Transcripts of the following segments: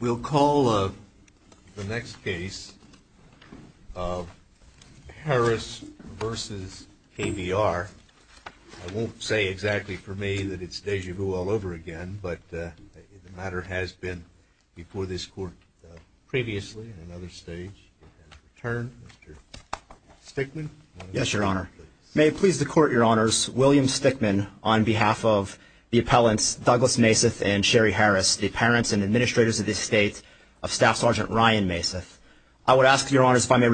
We'll call up the next case of Harris versus KBR. I won't say exactly for me that it's déjà vu all over again, but the matter has been before this court previously in another stage. Mr. Stickman. Yes, Your Honor. May it please the court, Your Honors, William Stickman on behalf of the appellants Douglas Maseth and Sherry Harris, the parents and administrators of the estate of Staff Sergeant Ryan Maseth. I would ask, Your Honors, if I may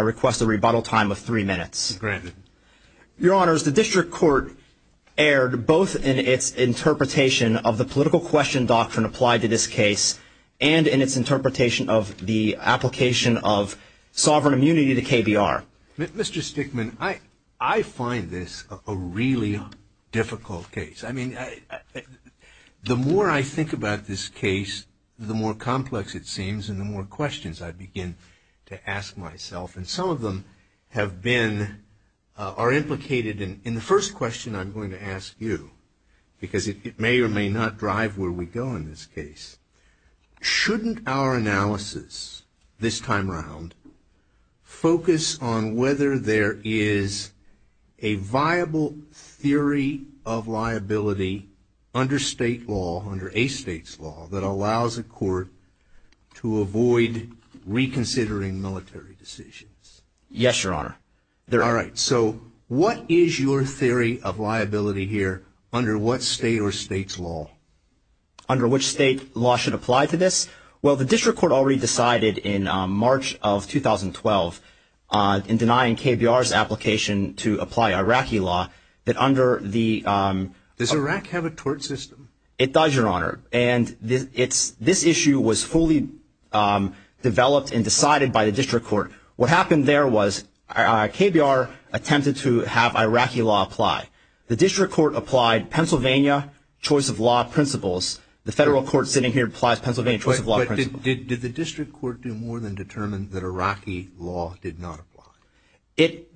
request a rebuttal time of three minutes. Granted. Your Honors, the district court erred both in its interpretation of the political question doctrine applied to this case and in its interpretation of the application of sovereign immunity to KBR. Mr. Stickman, I find this a really difficult case. I mean, the more I think about this case, the more complex it seems and the more questions I begin to ask myself. And some of them have been, are implicated in the first question I'm going to ask you, because it may or may not drive where we go in this case. Shouldn't our analysis this time around focus on whether there is a viable theory of liability under state law, under a state's law, that allows a court to avoid reconsidering military decisions? Yes, Your Honor. All right. So what is your theory of liability here under what state or state's law? Under which state law should apply to this? Well, the district court already decided in March of 2012 in denying KBR's application to apply Iraqi law that under the — Does Iraq have a tort system? It does, Your Honor. And this issue was fully developed and decided by the district court. What happened there was KBR attempted to have Iraqi law apply. The district court applied Pennsylvania choice of law principles. The federal court sitting here applies Pennsylvania choice of law principles. But did the district court do more than determine that Iraqi law did not apply? It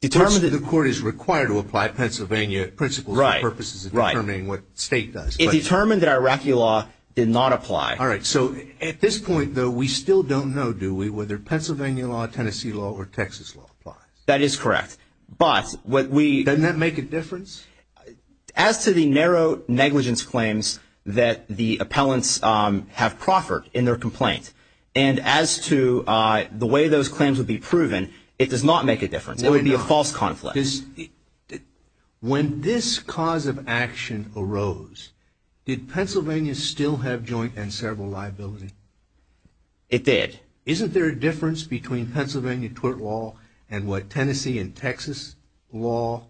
determined that — The court is required to apply Pennsylvania principles and purposes in determining what state does. It determined that Iraqi law did not apply. All right. So at this point, though, we still don't know, do we, whether Pennsylvania law, Tennessee law, or Texas law applies? That is correct. But what we — Doesn't that make a difference? As to the narrow negligence claims that the appellants have proffered in their complaint, and as to the way those claims would be proven, it does not make a difference. It would be a false conflict. When this cause of action arose, did Pennsylvania still have joint and several liability? It did. Isn't there a difference between Pennsylvania tort law and what Tennessee and Texas law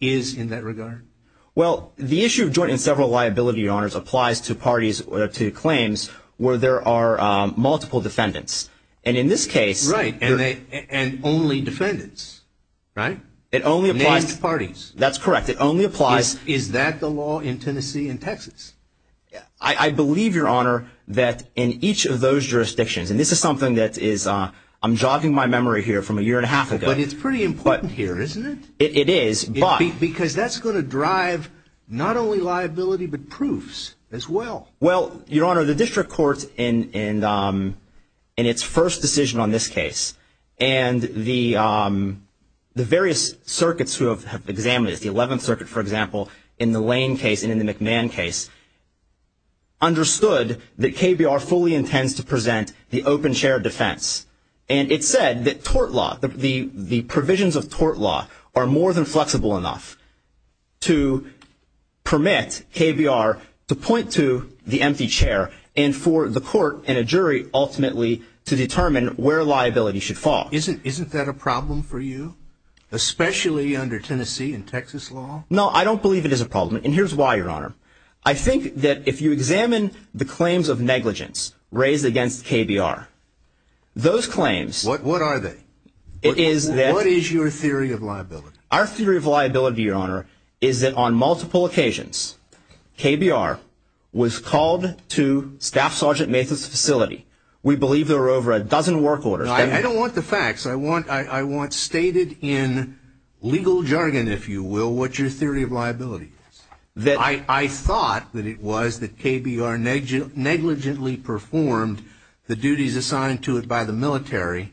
is in that regard? Well, the issue of joint and several liability, Your Honors, applies to parties or to claims where there are multiple defendants. And in this case — Right. And only defendants, right? It only applies — Named parties. That's correct. It only applies — Is that the law in Tennessee and Texas? I believe, Your Honor, that in each of those jurisdictions — and this is something that is — I'm jogging my memory here from a year and a half ago. But it's pretty important here, isn't it? It is, but — Because that's going to drive not only liability, but proofs as well. Well, Your Honor, the district court, in its first decision on this case, and the various circuits who have examined it, the 11th Circuit, for example, in the Lane case and in the McMahon case, understood that KBR fully intends to present the open shared defense. And it said that tort law — the provisions of tort law are more than flexible enough to permit KBR to point to the empty chair and for the court and a jury, ultimately, to determine where liability should fall. Isn't that a problem for you, especially under Tennessee and Texas law? No, I don't believe it is a problem. And here's why, Your Honor. I think that if you examine the claims of negligence raised against KBR, those claims — What are they? It is that — What is your theory of liability? Our theory of liability, Your Honor, is that on multiple occasions, KBR was called to Staff Sergeant Mathis' facility. We believe there were over a dozen work orders. I don't want the facts. I want stated in legal jargon, if you will, what your theory of liability is. I thought that it was that KBR negligently performed the duties assigned to it by the military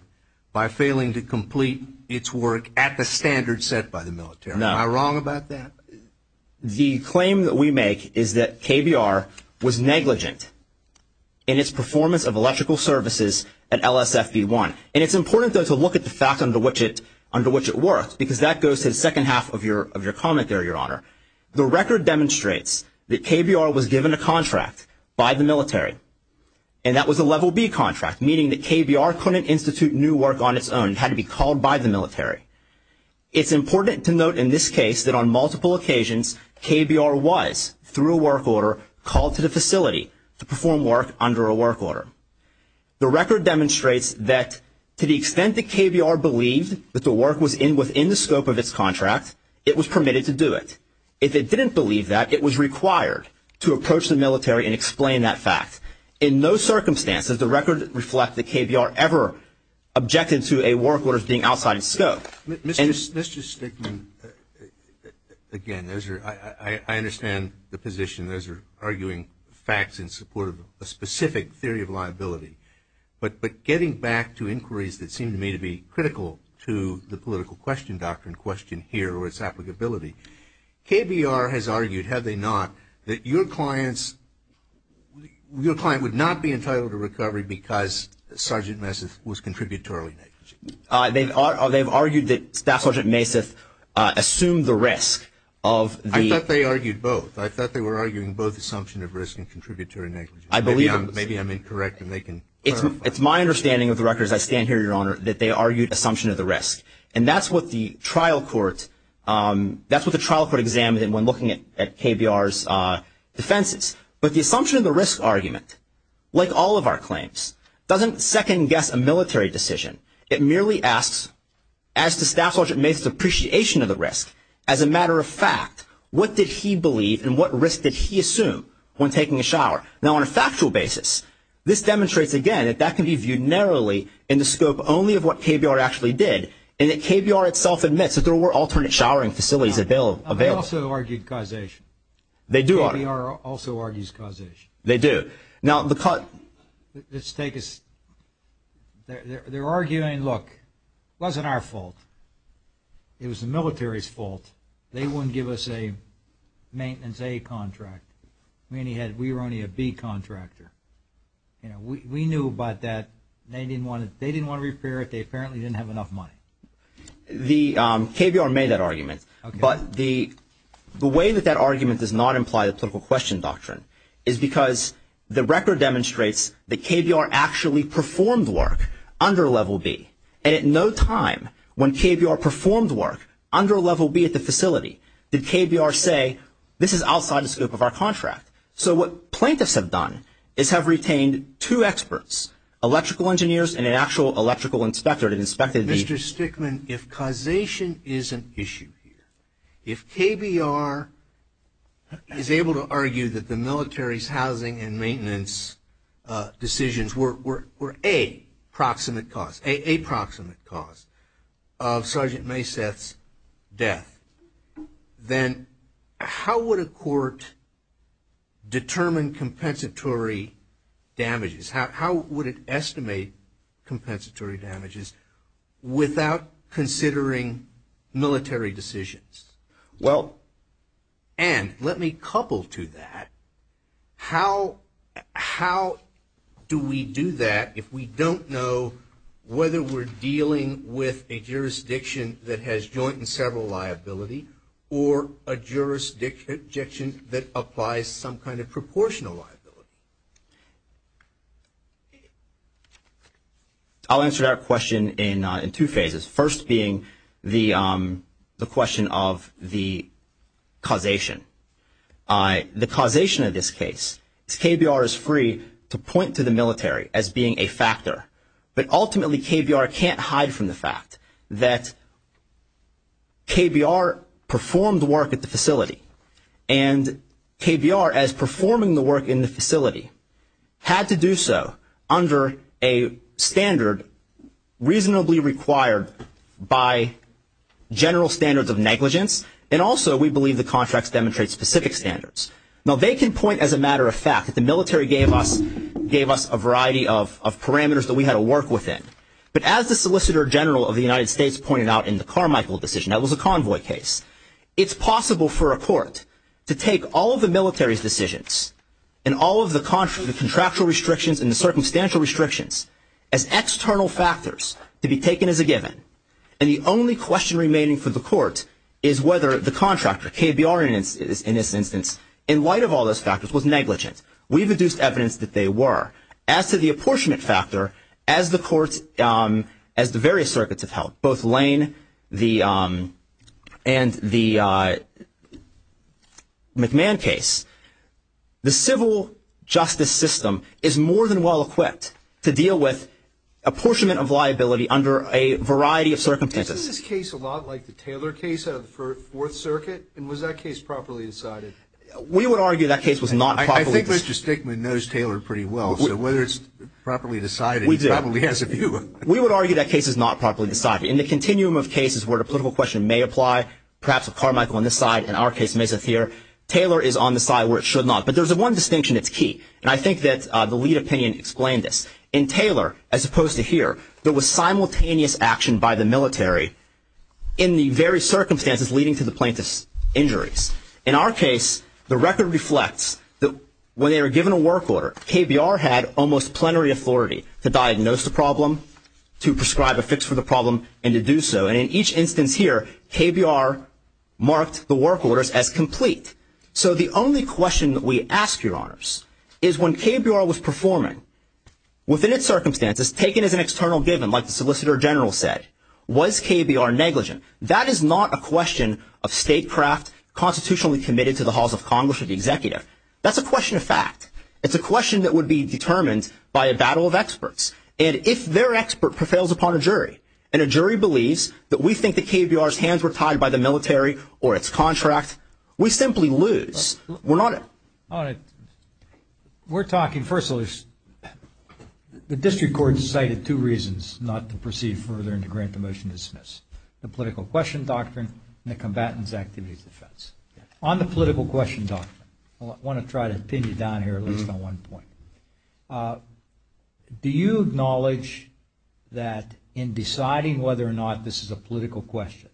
by failing to complete its work at the standard set by the military. No. Am I wrong about that? The claim that we make is that KBR was negligent in its performance of electrical services at LSFB1. And it's important, though, to look at the fact under which it worked, because that goes to the second half of your comment there, Your Honor. The record demonstrates that KBR was given a contract by the military, and that was a Level B contract, meaning that KBR couldn't institute new work on its own. It had to be called by the military. It's important to note in this case that on multiple occasions, KBR was, through a work order, called to the facility to perform work under a work order. The record demonstrates that to the extent that KBR believed that the work was within the scope of its contract, it was permitted to do it. If it didn't believe that, it was required to approach the military and explain that fact. In no circumstances does the record reflect that KBR ever objected to a work order being outside its scope. Mr. Stickman, again, I understand the position. Those are arguing facts in support of a specific theory of liability. But getting back to inquiries that seem to me to be critical to the political question doctrine question here or its applicability, KBR has argued, have they not, that your client would not be entitled to recovery because Sergeant Messif was contributorily negligent. They've argued that Staff Sergeant Messif assumed the risk of the- I thought they argued both. I thought they were arguing both assumption of risk and contributory negligence. I believe- Maybe I'm incorrect and they can clarify. It's my understanding of the record as I stand here, Your Honor, that they argued assumption of the risk. And that's what the trial court examined when looking at KBR's defenses. But the assumption of the risk argument, like all of our claims, doesn't second guess a military decision. It merely asks, as to Staff Sergeant Messif's appreciation of the risk, as a matter of fact, what did he believe and what risk did he assume when taking a shower? Now, on a factual basis, this demonstrates, again, that that can be viewed narrowly in the scope only of what KBR actually did, and that KBR itself admits that there were alternate showering facilities available. I also argued causation. They do argue- KBR also argues causation. They do. Now, the- Let's take a- They're arguing, look, it wasn't our fault. It was the military's fault. They wouldn't give us a maintenance A contract. We were only a B contractor. We knew about that. They apparently didn't have enough money. KBR made that argument. But the way that that argument does not imply the political question doctrine is because the record demonstrates that KBR actually performed work under Level B, and at no time when KBR performed work under Level B at the facility did KBR say, this is outside the scope of our contract. So what plaintiffs have done is have retained two experts, electrical engineers and an actual electrical inspector that inspected the- If KBR is able to argue that the military's housing and maintenance decisions were a proximate cause, a proximate cause of Sergeant Mayseth's death, then how would a court determine compensatory damages? How would it estimate compensatory damages without considering military decisions? Well, and let me couple to that, how do we do that if we don't know whether we're dealing with a jurisdiction that has joint and several liability or a jurisdiction that applies some kind of proportional liability? I'll answer that question in two phases, first being the question of the causation. The causation of this case is KBR is free to point to the military as being a factor, but ultimately KBR can't hide from the fact that KBR performed work at the facility, and KBR as performing the work in the facility had to do so under a standard reasonably required by general standards of negligence, and also we believe the contracts demonstrate specific standards. Now they can point as a matter of fact that the military gave us a variety of parameters that we had to work within, but as the Solicitor General of the United States pointed out in the Carmichael decision, that was a convoy case, it's possible for a court to take all of the military's decisions and all of the contractual restrictions and the circumstantial restrictions as external factors to be taken as a given, and the only question remaining for the court is whether the contractor, KBR in this instance, in light of all those factors was negligent. We've deduced evidence that they were. As to the apportionment factor, as the various circuits have held, both Lane and the McMahon case, the civil justice system is more than well equipped to deal with apportionment of liability under a variety of circumstances. Isn't this case a lot like the Taylor case out of the Fourth Circuit, and was that case properly decided? We would argue that case was not properly decided. I think Mr. Stickman knows Taylor pretty well, so whether it's properly decided, he probably has a view of it. We would argue that case is not properly decided. In the continuum of cases where a political question may apply, perhaps a Carmichael on this side, and our case may sit here, Taylor is on the side where it should not. But there's one distinction that's key, and I think that the lead opinion explained this. In Taylor, as opposed to here, there was simultaneous action by the military in the various circumstances leading to the plaintiff's injuries. In our case, the record reflects that when they were given a work order, KBR had almost plenary authority to diagnose the problem, to prescribe a fix for the problem, and to do so. And in each instance here, KBR marked the work orders as complete. So the only question that we ask, Your Honors, is when KBR was performing, within its circumstances, taken as an external given, like the Solicitor General said, was KBR negligent? That is not a question of statecraft constitutionally committed to the halls of Congress or the executive. That's a question of fact. It's a question that would be determined by a battle of experts. And if their expert prevails upon a jury, and a jury believes that we think that KBR's hands were tied by the military or its contract, we simply lose. We're not a – All right. We're talking, first of all, the district court cited two reasons not to proceed further and to grant the motion to dismiss. The political question doctrine and the combatant's activity defense. On the political question doctrine, I want to try to pin you down here at least on one point. Do you acknowledge that in deciding whether or not this is a political question,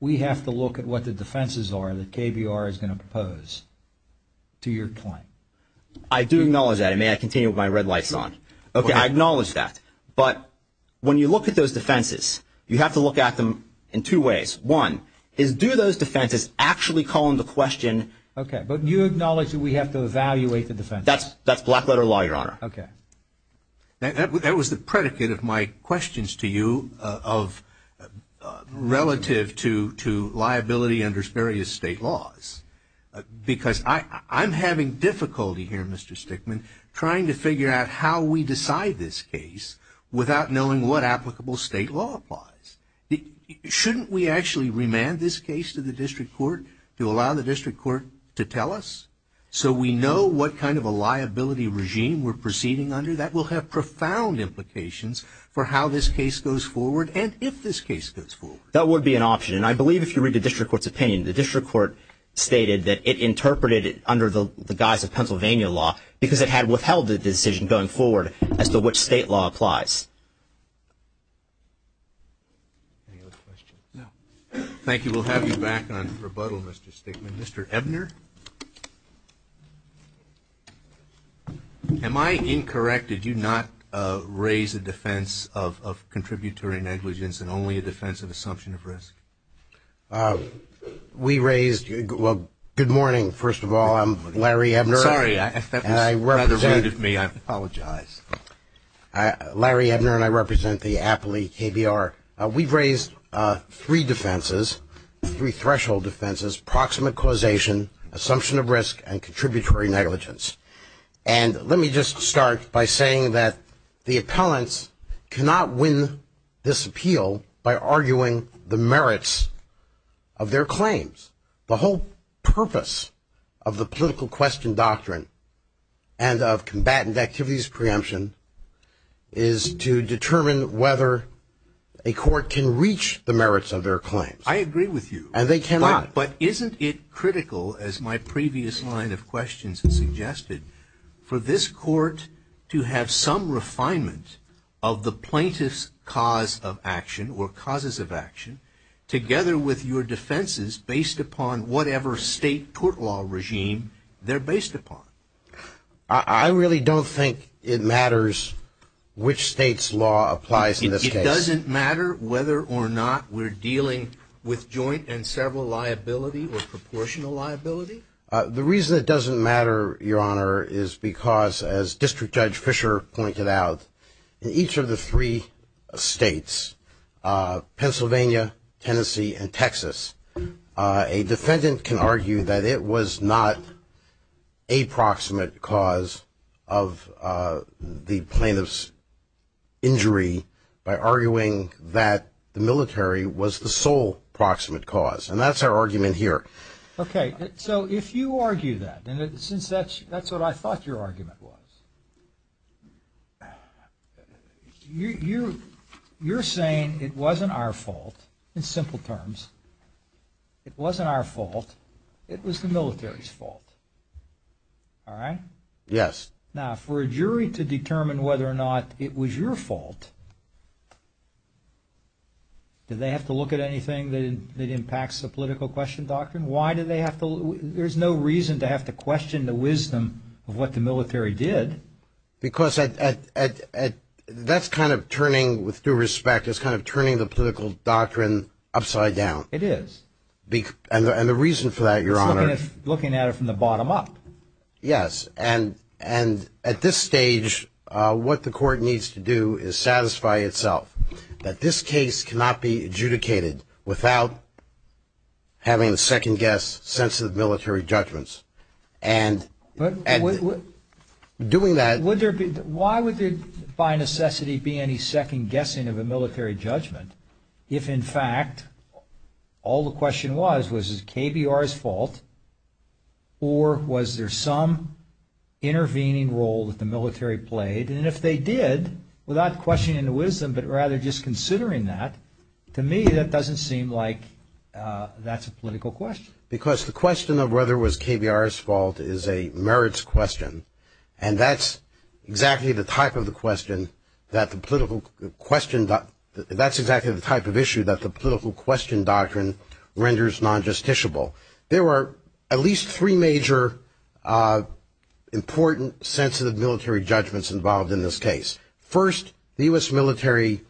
we have to look at what the defenses are that KBR is going to propose to your claim? I do acknowledge that. And may I continue with my red lights on? Okay, I acknowledge that. But when you look at those defenses, you have to look at them in two ways. One is do those defenses actually call into question – Okay, but you acknowledge that we have to evaluate the defenses. That's black letter law, Your Honor. Okay. That was the predicate of my questions to you of relative to liability under various state laws. Because I'm having difficulty here, Mr. Stickman, trying to figure out how we decide this case without knowing what applicable state law applies. Shouldn't we actually remand this case to the district court to allow the district court to tell us so we know what kind of a liability regime we're proceeding under? That will have profound implications for how this case goes forward and if this case goes forward. That would be an option. And I believe if you read the district court's opinion, the district court stated that it interpreted it under the guise of Pennsylvania law because it had withheld the decision going forward as to which state law applies. Thank you. We'll have you back on rebuttal, Mr. Stickman. Mr. Ebner? Am I incorrect? Did you not raise a defense of contributory negligence and only a defense of assumption of risk? We raised ñ well, good morning, first of all. I'm Larry Ebner. Sorry. That was rather rude of me. I apologize. Larry Ebner and I represent the Appley KBR. We've raised three defenses, three threshold defenses, proximate causation, assumption of risk, and contributory negligence. And let me just start by saying that the appellants cannot win this appeal by arguing the merits of their claims. The whole purpose of the political question doctrine and of combatant activities preemption is to determine whether a court can reach the merits of their claims. I agree with you. And they cannot. But isn't it critical, as my previous line of questions suggested, for this court to have some refinement of the plaintiff's cause of action or causes of action together with your defenses based upon whatever state court law regime they're based upon? I really don't think it matters which state's law applies in this case. It doesn't matter whether or not we're dealing with joint and several liability or proportional liability? The reason it doesn't matter, Your Honor, is because, as District Judge Fisher pointed out, in each of the three states, Pennsylvania, Tennessee, and Texas, a defendant can argue that it was not a proximate cause of the plaintiff's injury by arguing that the military was the sole proximate cause. And that's our argument here. Okay. So if you argue that, and since that's what I thought your argument was, you're saying it wasn't our fault in simple terms. It wasn't our fault. It was the military's fault. All right? Yes. Now, for a jury to determine whether or not it was your fault, do they have to look at anything that impacts the political question doctrine? Why do they have to? There's no reason to have to question the wisdom of what the military did. Because that's kind of turning, with due respect, it's kind of turning the political doctrine upside down. It is. And the reason for that, Your Honor. It's looking at it from the bottom up. Yes. And at this stage, what the court needs to do is satisfy itself that this case cannot be adjudicated without having a second-guess sense of military judgments. And doing that Why would there by necessity be any second-guessing of a military judgment if, in fact, all the question was, was it KBR's fault, or was there some intervening role that the military played? And if they did, without questioning the wisdom, but rather just considering that, to me that doesn't seem like that's a political question. Because the question of whether it was KBR's fault is a merits question, and that's exactly the type of the question that the political question, that's exactly the type of issue that the political question doctrine renders non-justiciable. There were at least three major important sensitive military judgments involved in this case. First, the U.S. military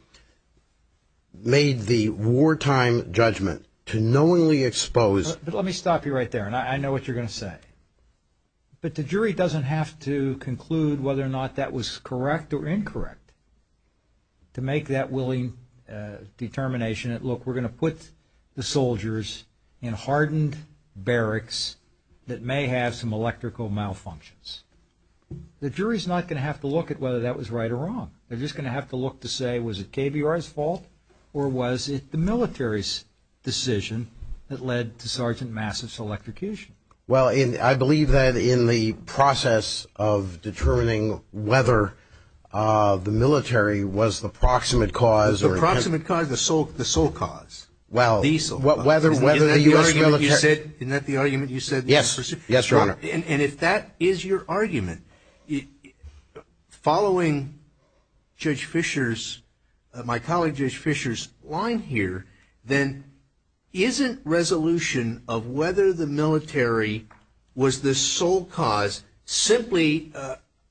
made the wartime judgment to knowingly expose But let me stop you right there, and I know what you're going to say. But the jury doesn't have to conclude whether or not that was correct or incorrect to make that willing determination that, look, we're going to put the soldiers in hardened barracks that may have some electrical malfunctions. The jury's not going to have to look at whether that was right or wrong. They're just going to have to look to say, was it KBR's fault, or was it the military's decision that led to Sergeant Massa's electrocution? Well, I believe that in the process of determining whether the military was the proximate cause. The proximate cause, the sole cause. Well, whether the U.S. military. Isn't that the argument you said? Yes, Your Honor. And if that is your argument, following Judge Fisher's, my colleague Judge Fisher's line here, then isn't resolution of whether the military was the sole cause simply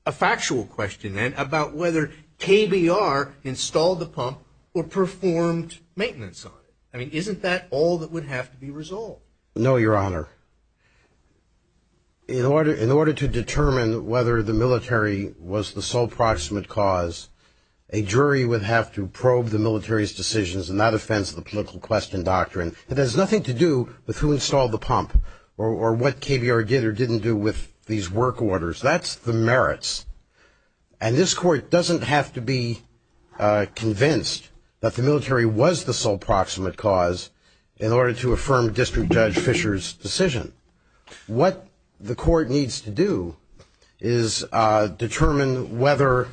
a factual question, and about whether KBR installed the pump or performed maintenance on it? I mean, isn't that all that would have to be resolved? No, Your Honor. In order to determine whether the military was the sole proximate cause, a jury would have to probe the military's decisions in that offense of the political question doctrine. It has nothing to do with who installed the pump or what KBR did or didn't do with these work orders. That's the merits. And this Court doesn't have to be convinced that the military was the sole proximate cause in order to affirm District Judge Fisher's decision. What the Court needs to do is determine whether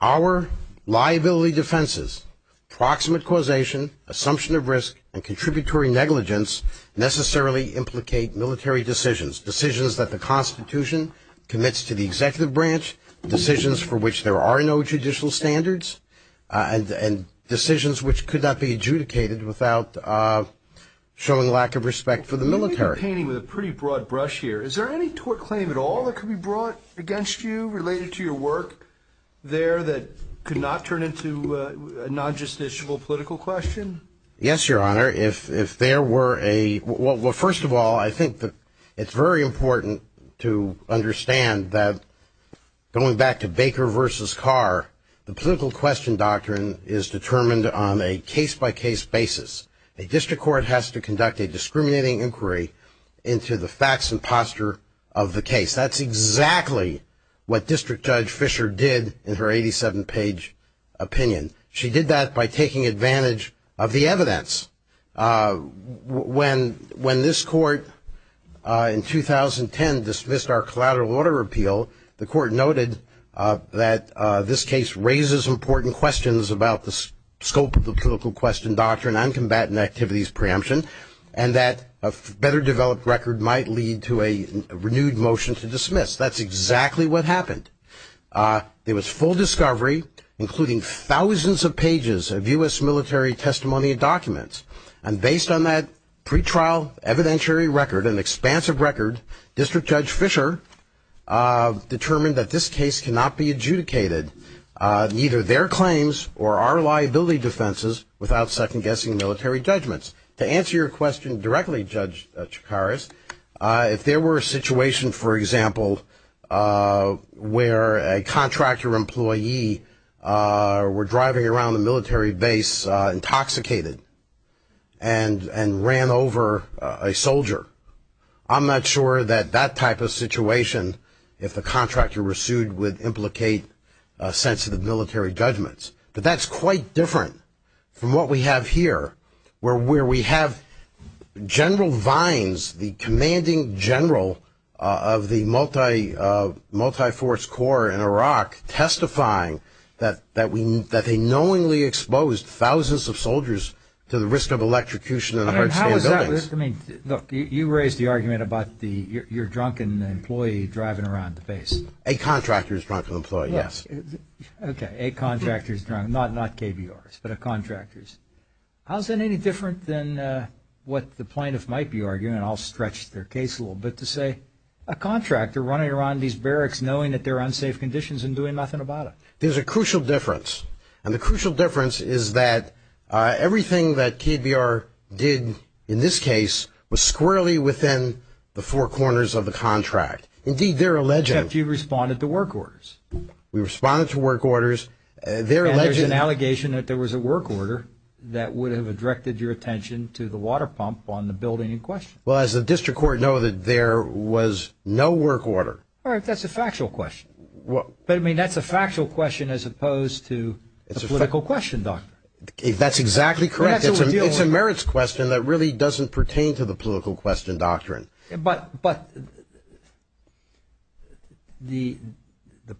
our liability defenses, proximate causation, assumption of risk, and contributory negligence necessarily implicate military decisions, decisions that the Constitution commits to the executive branch, decisions for which there are no judicial standards, and decisions which could not be adjudicated without showing lack of respect for the military. You're painting with a pretty broad brush here. Is there any tort claim at all that could be brought against you related to your work there that could not turn into a non-justiciable political question? Yes, Your Honor. If there were a – well, first of all, I think that it's very important to understand that going back to Baker versus Carr, the political question doctrine is determined on a case-by-case basis. A district court has to conduct a discriminating inquiry into the facts and posture of the case. That's exactly what District Judge Fisher did in her 87-page opinion. She did that by taking advantage of the evidence. When this Court in 2010 dismissed our collateral order appeal, the Court noted that this case raises important questions about the scope of the political question doctrine on combatant activities preemption, and that a better-developed record might lead to a renewed motion to dismiss. That's exactly what happened. There was full discovery, including thousands of pages of U.S. military testimony and documents. And based on that pretrial evidentiary record, an expansive record, District Judge Fisher determined that this case cannot be adjudicated, neither their claims or our liability defenses, without second-guessing military judgments. To answer your question directly, Judge Chikaris, if there were a situation, for example, where a contractor employee were driving around a military base intoxicated and ran over a soldier, I'm not sure that that type of situation, if the contractor were sued, would implicate sensitive military judgments. But that's quite different from what we have here, where we have General Vines, the commanding general of the multi-force corps in Iraq, testifying that they knowingly exposed thousands of soldiers to the risk of electrocution in hard-to-stand buildings. Look, you raised the argument about your drunken employee driving around the base. A contractor's drunken employee, yes. Okay, a contractor's drunk, not KBR's, but a contractor's. How is that any different than what the plaintiff might be arguing? And I'll stretch their case a little bit to say, a contractor running around these barracks knowing that they're in unsafe conditions and doing nothing about it. There's a crucial difference. And the crucial difference is that everything that KBR did in this case was squarely within the four corners of the contract. Indeed, they're alleging. Except you responded to work orders. We responded to work orders. And there's an allegation that there was a work order that would have directed your attention to the water pump on the building in question. Well, as the district court know that there was no work order. All right, that's a factual question. But, I mean, that's a factual question as opposed to a political question, doctor. That's exactly correct. It's a merits question that really doesn't pertain to the political question doctrine. But the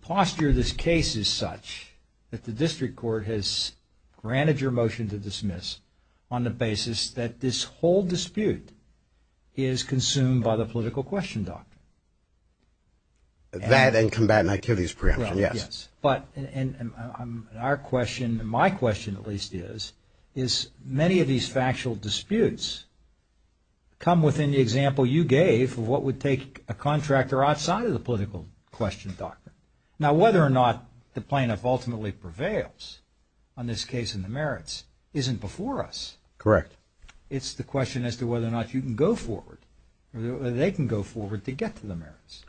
posture of this case is such that the district court has granted your motion to dismiss on the basis that this whole dispute is consumed by the political question doctrine. That and combatant activities preemption, yes. Right, yes. But, and our question, my question at least is, is many of these factual disputes come within the example you gave of what would take a contractor outside of the political question doctrine. Now, whether or not the plaintiff ultimately prevails on this case in the merits isn't before us. Correct. It's the question as to whether or not you can go forward, whether they can go forward to get to the merits.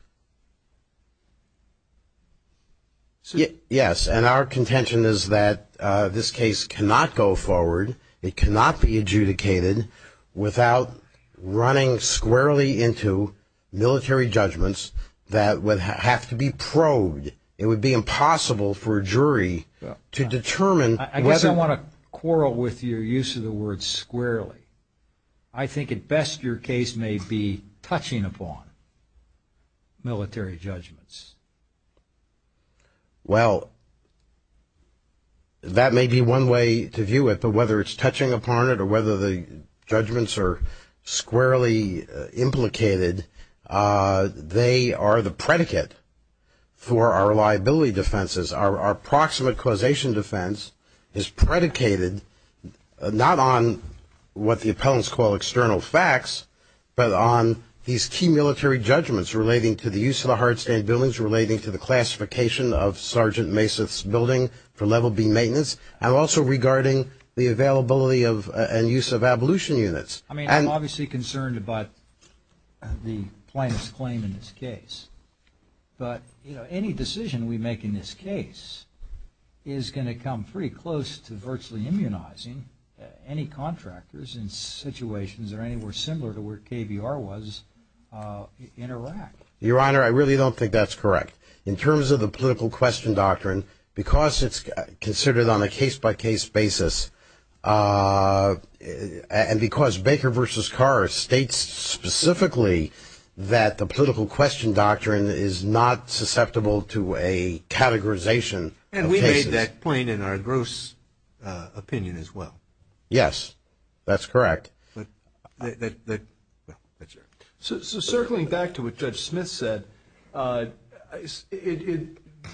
Yes, and our contention is that this case cannot go forward. It cannot be adjudicated without running squarely into military judgments that would have to be probed. It would be impossible for a jury to determine. I guess I want to quarrel with your use of the word squarely. I think at best your case may be touching upon military judgments. Well, that may be one way to view it, but whether it's touching upon it or whether the judgments are squarely implicated, they are the predicate for our reliability defenses. Our proximate causation defense is predicated not on what the appellants call external facts, but on these key military judgments relating to the use of the hard stand buildings, relating to the classification of Sergeant Masath's building for level B maintenance, and also regarding the availability and use of abolition units. I mean, I'm obviously concerned about the plaintiff's claim in this case, but any decision we make in this case is going to come pretty close to virtually immunizing any contractors in situations that are anywhere similar to where KBR was in Iraq. Your Honor, I really don't think that's correct. In terms of the political question doctrine, because it's considered on a case-by-case basis and because Baker v. Carr states specifically that the political question doctrine is not susceptible to a categorization. And we made that point in our gross opinion as well. Yes, that's correct. So circling back to what Judge Smith said,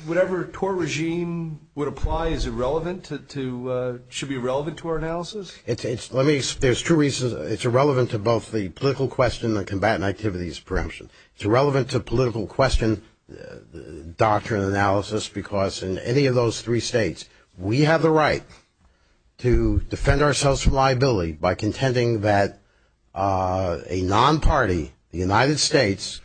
whatever tort regime would apply, is it relevant to – should be relevant to our analysis? Let me – there's two reasons. It's irrelevant to both the political question and the combatant activities preemption. It's irrelevant to political question doctrine analysis because in any of those three states, we have the right to defend ourselves from liability by contending that a non-party, the United States,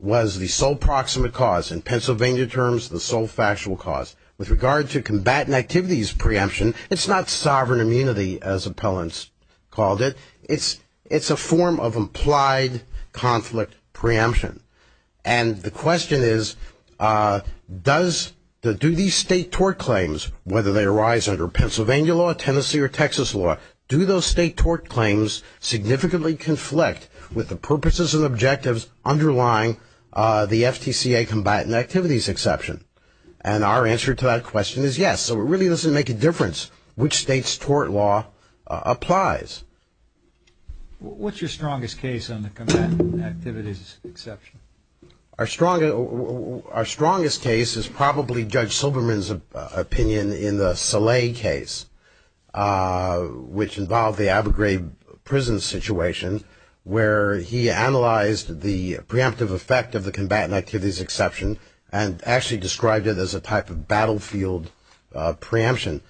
was the sole proximate cause. In Pennsylvania terms, the sole factual cause. With regard to combatant activities preemption, it's not sovereign immunity as appellants called it. It's a form of implied conflict preemption. And the question is, do these state tort claims, whether they arise under Pennsylvania law, Tennessee or Texas law, do those state tort claims significantly conflict with the purposes and objectives underlying the FTCA combatant activities exception? And our answer to that question is yes. So it really doesn't make a difference which state's tort law applies. What's your strongest case on the combatant activities exception? Our strongest case is probably Judge Silberman's opinion in the Saleh case, which involved the Abergrave prison situation, where he analyzed the preemptive effect of the combatant activities exception and actually described it as a type of battlefield preemption.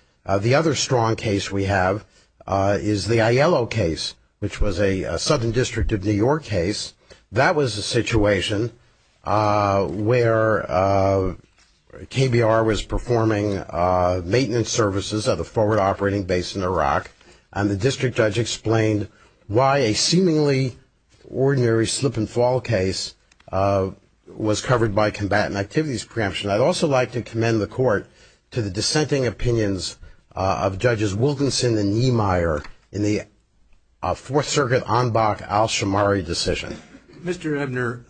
The other strong case we have is the Aiello case, which was a Southern District of New York case. That was a situation where KBR was performing maintenance services at a forward operating base in Iraq, and the district judge explained why a seemingly ordinary slip and fall case was covered by combatant activities preemption. I'd also like to commend the Court to the dissenting opinions of Judges Wilkinson and Niemeyer in the Fourth Circuit Anbach-Alshamari decision. Mr. Ebner,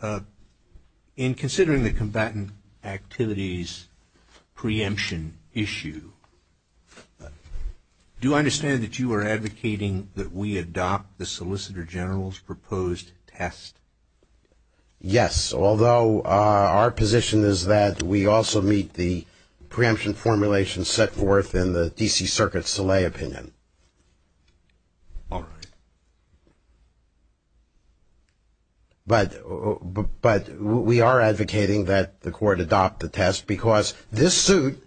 in considering the combatant activities preemption issue, do I understand that you are advocating that we adopt the Solicitor General's proposed test? Yes, although our position is that we also meet the preemption formulation set forth in the D.C. Circuit Saleh opinion. All right. But we are advocating that the Court adopt the test, because this suit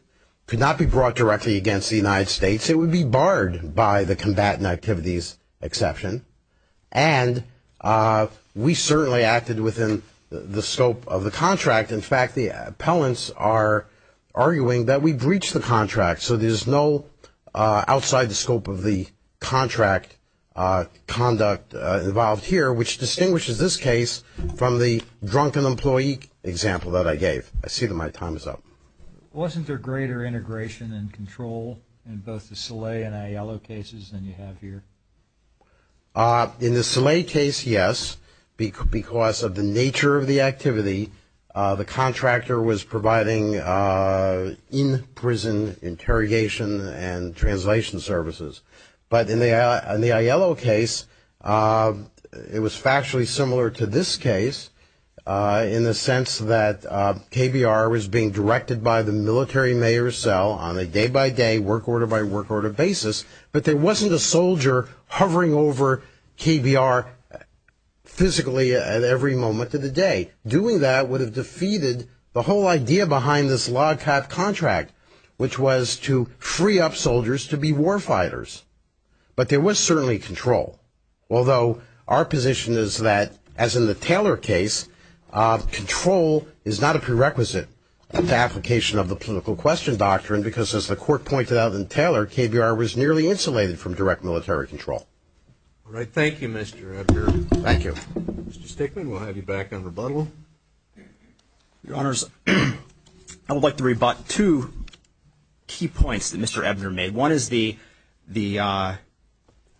could not be brought directly against the United States. It would be barred by the combatant activities exception. And we certainly acted within the scope of the contract. In fact, the appellants are arguing that we breached the contract, so there's no outside the scope of the contract conduct involved here, which distinguishes this case from the drunken employee example that I gave. I see that my time is up. Wasn't there greater integration and control in both the Saleh and Aiello cases than you have here? In the Saleh case, yes, because of the nature of the activity. The contractor was providing in-prison interrogation and translation services. But in the Aiello case, it was factually similar to this case, in the sense that KBR was being directed by the military mayor's cell on a day-by-day, work order-by-work order basis, but there wasn't a soldier hovering over KBR physically at every moment of the day. Doing that would have defeated the whole idea behind this log cap contract, which was to free up soldiers to be war fighters. But there was certainly control, although our position is that, as in the Taylor case, control is not a prerequisite to application of the political question doctrine, because as the court pointed out in Taylor, KBR was nearly insulated from direct military control. All right. Thank you, Mr. Ebner. Thank you. Mr. Stickman, we'll have you back on rebuttal. Your Honors, I would like to rebut two key points that Mr. Ebner made. One is the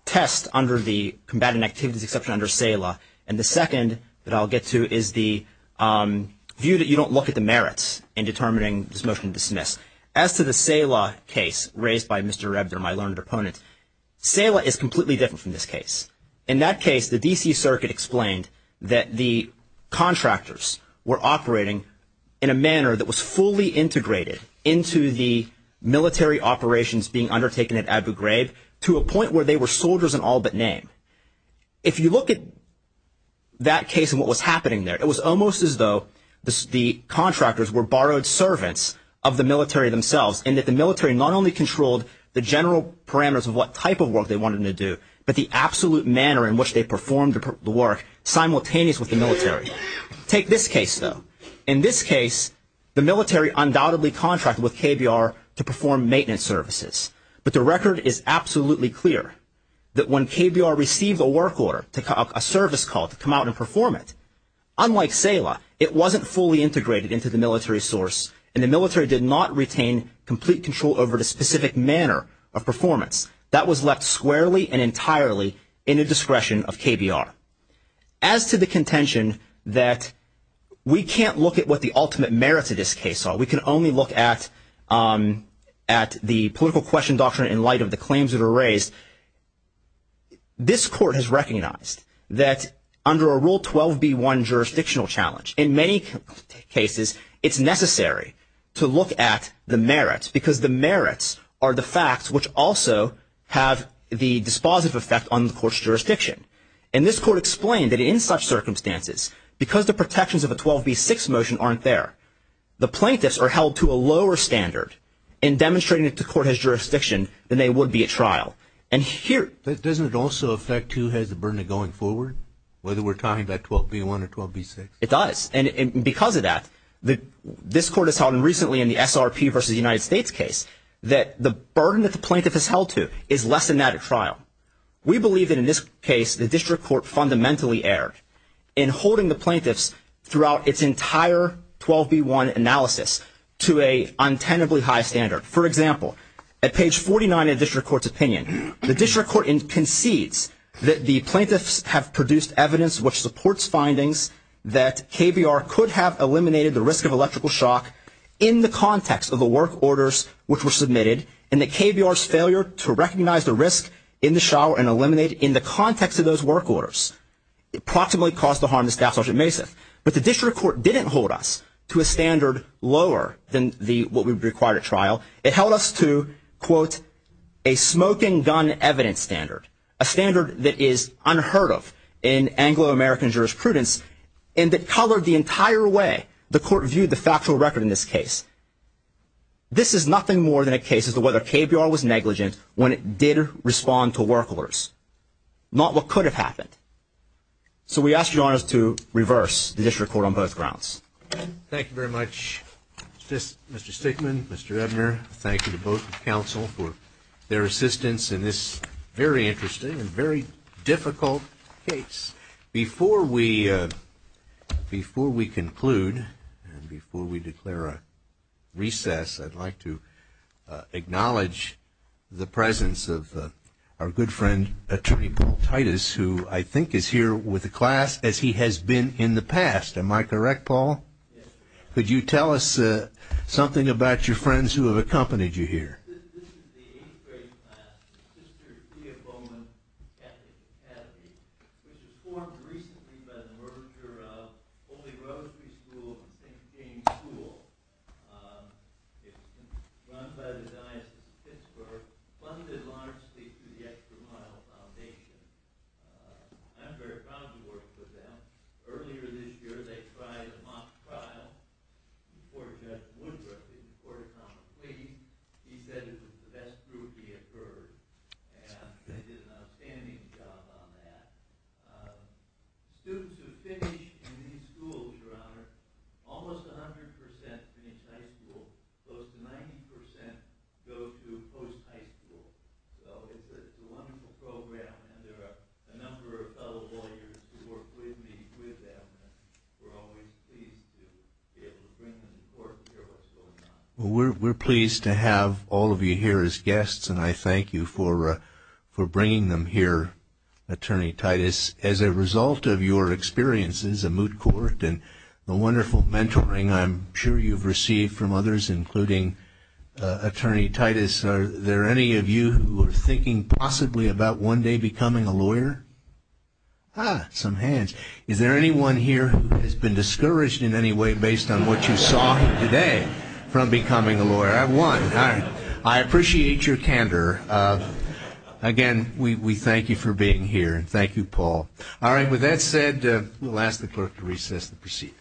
test under the combatant activities exception under CELA, and the second that I'll get to is the view that you don't look at the merits in determining this motion to dismiss. As to the CELA case raised by Mr. Ebner, my learned opponent, CELA is completely different from this case. In that case, the D.C. Circuit explained that the contractors were operating in a manner that was fully integrated into the military operations being undertaken at Abu Ghraib to a point where they were soldiers in all but name. If you look at that case and what was happening there, it was almost as though the contractors were borrowed servants of the military themselves, and that the military not only controlled the general parameters of what type of work they wanted them to do, but the absolute manner in which they performed the work simultaneous with the military. Take this case, though. In this case, the military undoubtedly contracted with KBR to perform maintenance services, but the record is absolutely clear that when KBR received a work order, a service call to come out and perform it, unlike CELA, it wasn't fully integrated into the military source, and the military did not retain complete control over the specific manner of performance. That was left squarely and entirely in the discretion of KBR. As to the contention that we can't look at what the ultimate merits of this case are, we can only look at the political question doctrine in light of the claims that were raised, this court has recognized that under a Rule 12b-1 jurisdictional challenge, in many cases, it's necessary to look at the merits, because the merits are the facts which also have the dispositive effect on the court's jurisdiction. And this court explained that in such circumstances, because the protections of a 12b-6 motion aren't there, the plaintiffs are held to a lower standard in demonstrating that the court has jurisdiction than they would be at trial. And here... Doesn't it also affect who has the burden of going forward, whether we're talking about 12b-1 or 12b-6? It does. And because of that, this court has held recently in the SRP versus the United States case that the burden that the plaintiff is held to is less than that at trial. We believe that in this case, the district court fundamentally erred in holding the plaintiffs throughout its entire 12b-1 analysis to an untenably high standard. For example, at page 49 of the district court's opinion, the district court concedes that the plaintiffs have produced evidence which supports findings that KBR could have eliminated the risk of electrical shock in the context of the work orders which were submitted, and that KBR's failure to recognize the risk in the shower and eliminate in the context of those work orders approximately caused the harm to Staff Sergeant Masath. But the district court didn't hold us to a standard lower than what would be required at trial. It held us to, quote, a smoking gun evidence standard, a standard that is unheard of in Anglo-American jurisprudence, and that colored the entire way the court viewed the factual record in this case. This is nothing more than a case as to whether KBR was negligent when it did respond to work orders, not what could have happened. So we ask your honors to reverse the district court on both grounds. Thank you very much, Mr. Stickman, Mr. Edner. Thank you to both counsel for their assistance in this very interesting and very difficult case. Before we conclude and before we declare a recess, I'd like to acknowledge the presence of our good friend, Attorney Paul Titus, who I think is here with the class as he has been in the past. Am I correct, Paul? Yes, sir. Could you tell us something about your friends who have accompanied you here? This is the 8th grade class, the Sister Tia Bowman Ethics Academy, which was formed recently by the merger of Holy Rosary School and St. James School. It's run by the Diocese of Pittsburgh, funded largely through the Extra Mile Foundation. I'm very proud to work with them. Earlier this year, they tried a mock trial before Judge Woodruff, before Thomas Lee. He said it was the best group he had heard, and they did an outstanding job on that. Students who finish in these schools, your honor, almost 100% finish high school. Close to 90% go to post-high school. So it's a wonderful program, and there are a number of fellow lawyers who work with me with them. We're always pleased to be able to bring them to court and hear what's going on. We're pleased to have all of you here as guests, and I thank you for bringing them here, Attorney Titus. As a result of your experiences at Moot Court and the wonderful mentoring I'm sure you've received from others, including Attorney Titus, are there any of you who are thinking possibly about one day becoming a lawyer? Ah, some hands. Is there anyone here who has been discouraged in any way based on what you saw today from becoming a lawyer? I have one. I appreciate your candor. Again, we thank you for being here, and thank you, Paul. All right. With that said, we'll ask the clerk to recess the proceedings. Please rise.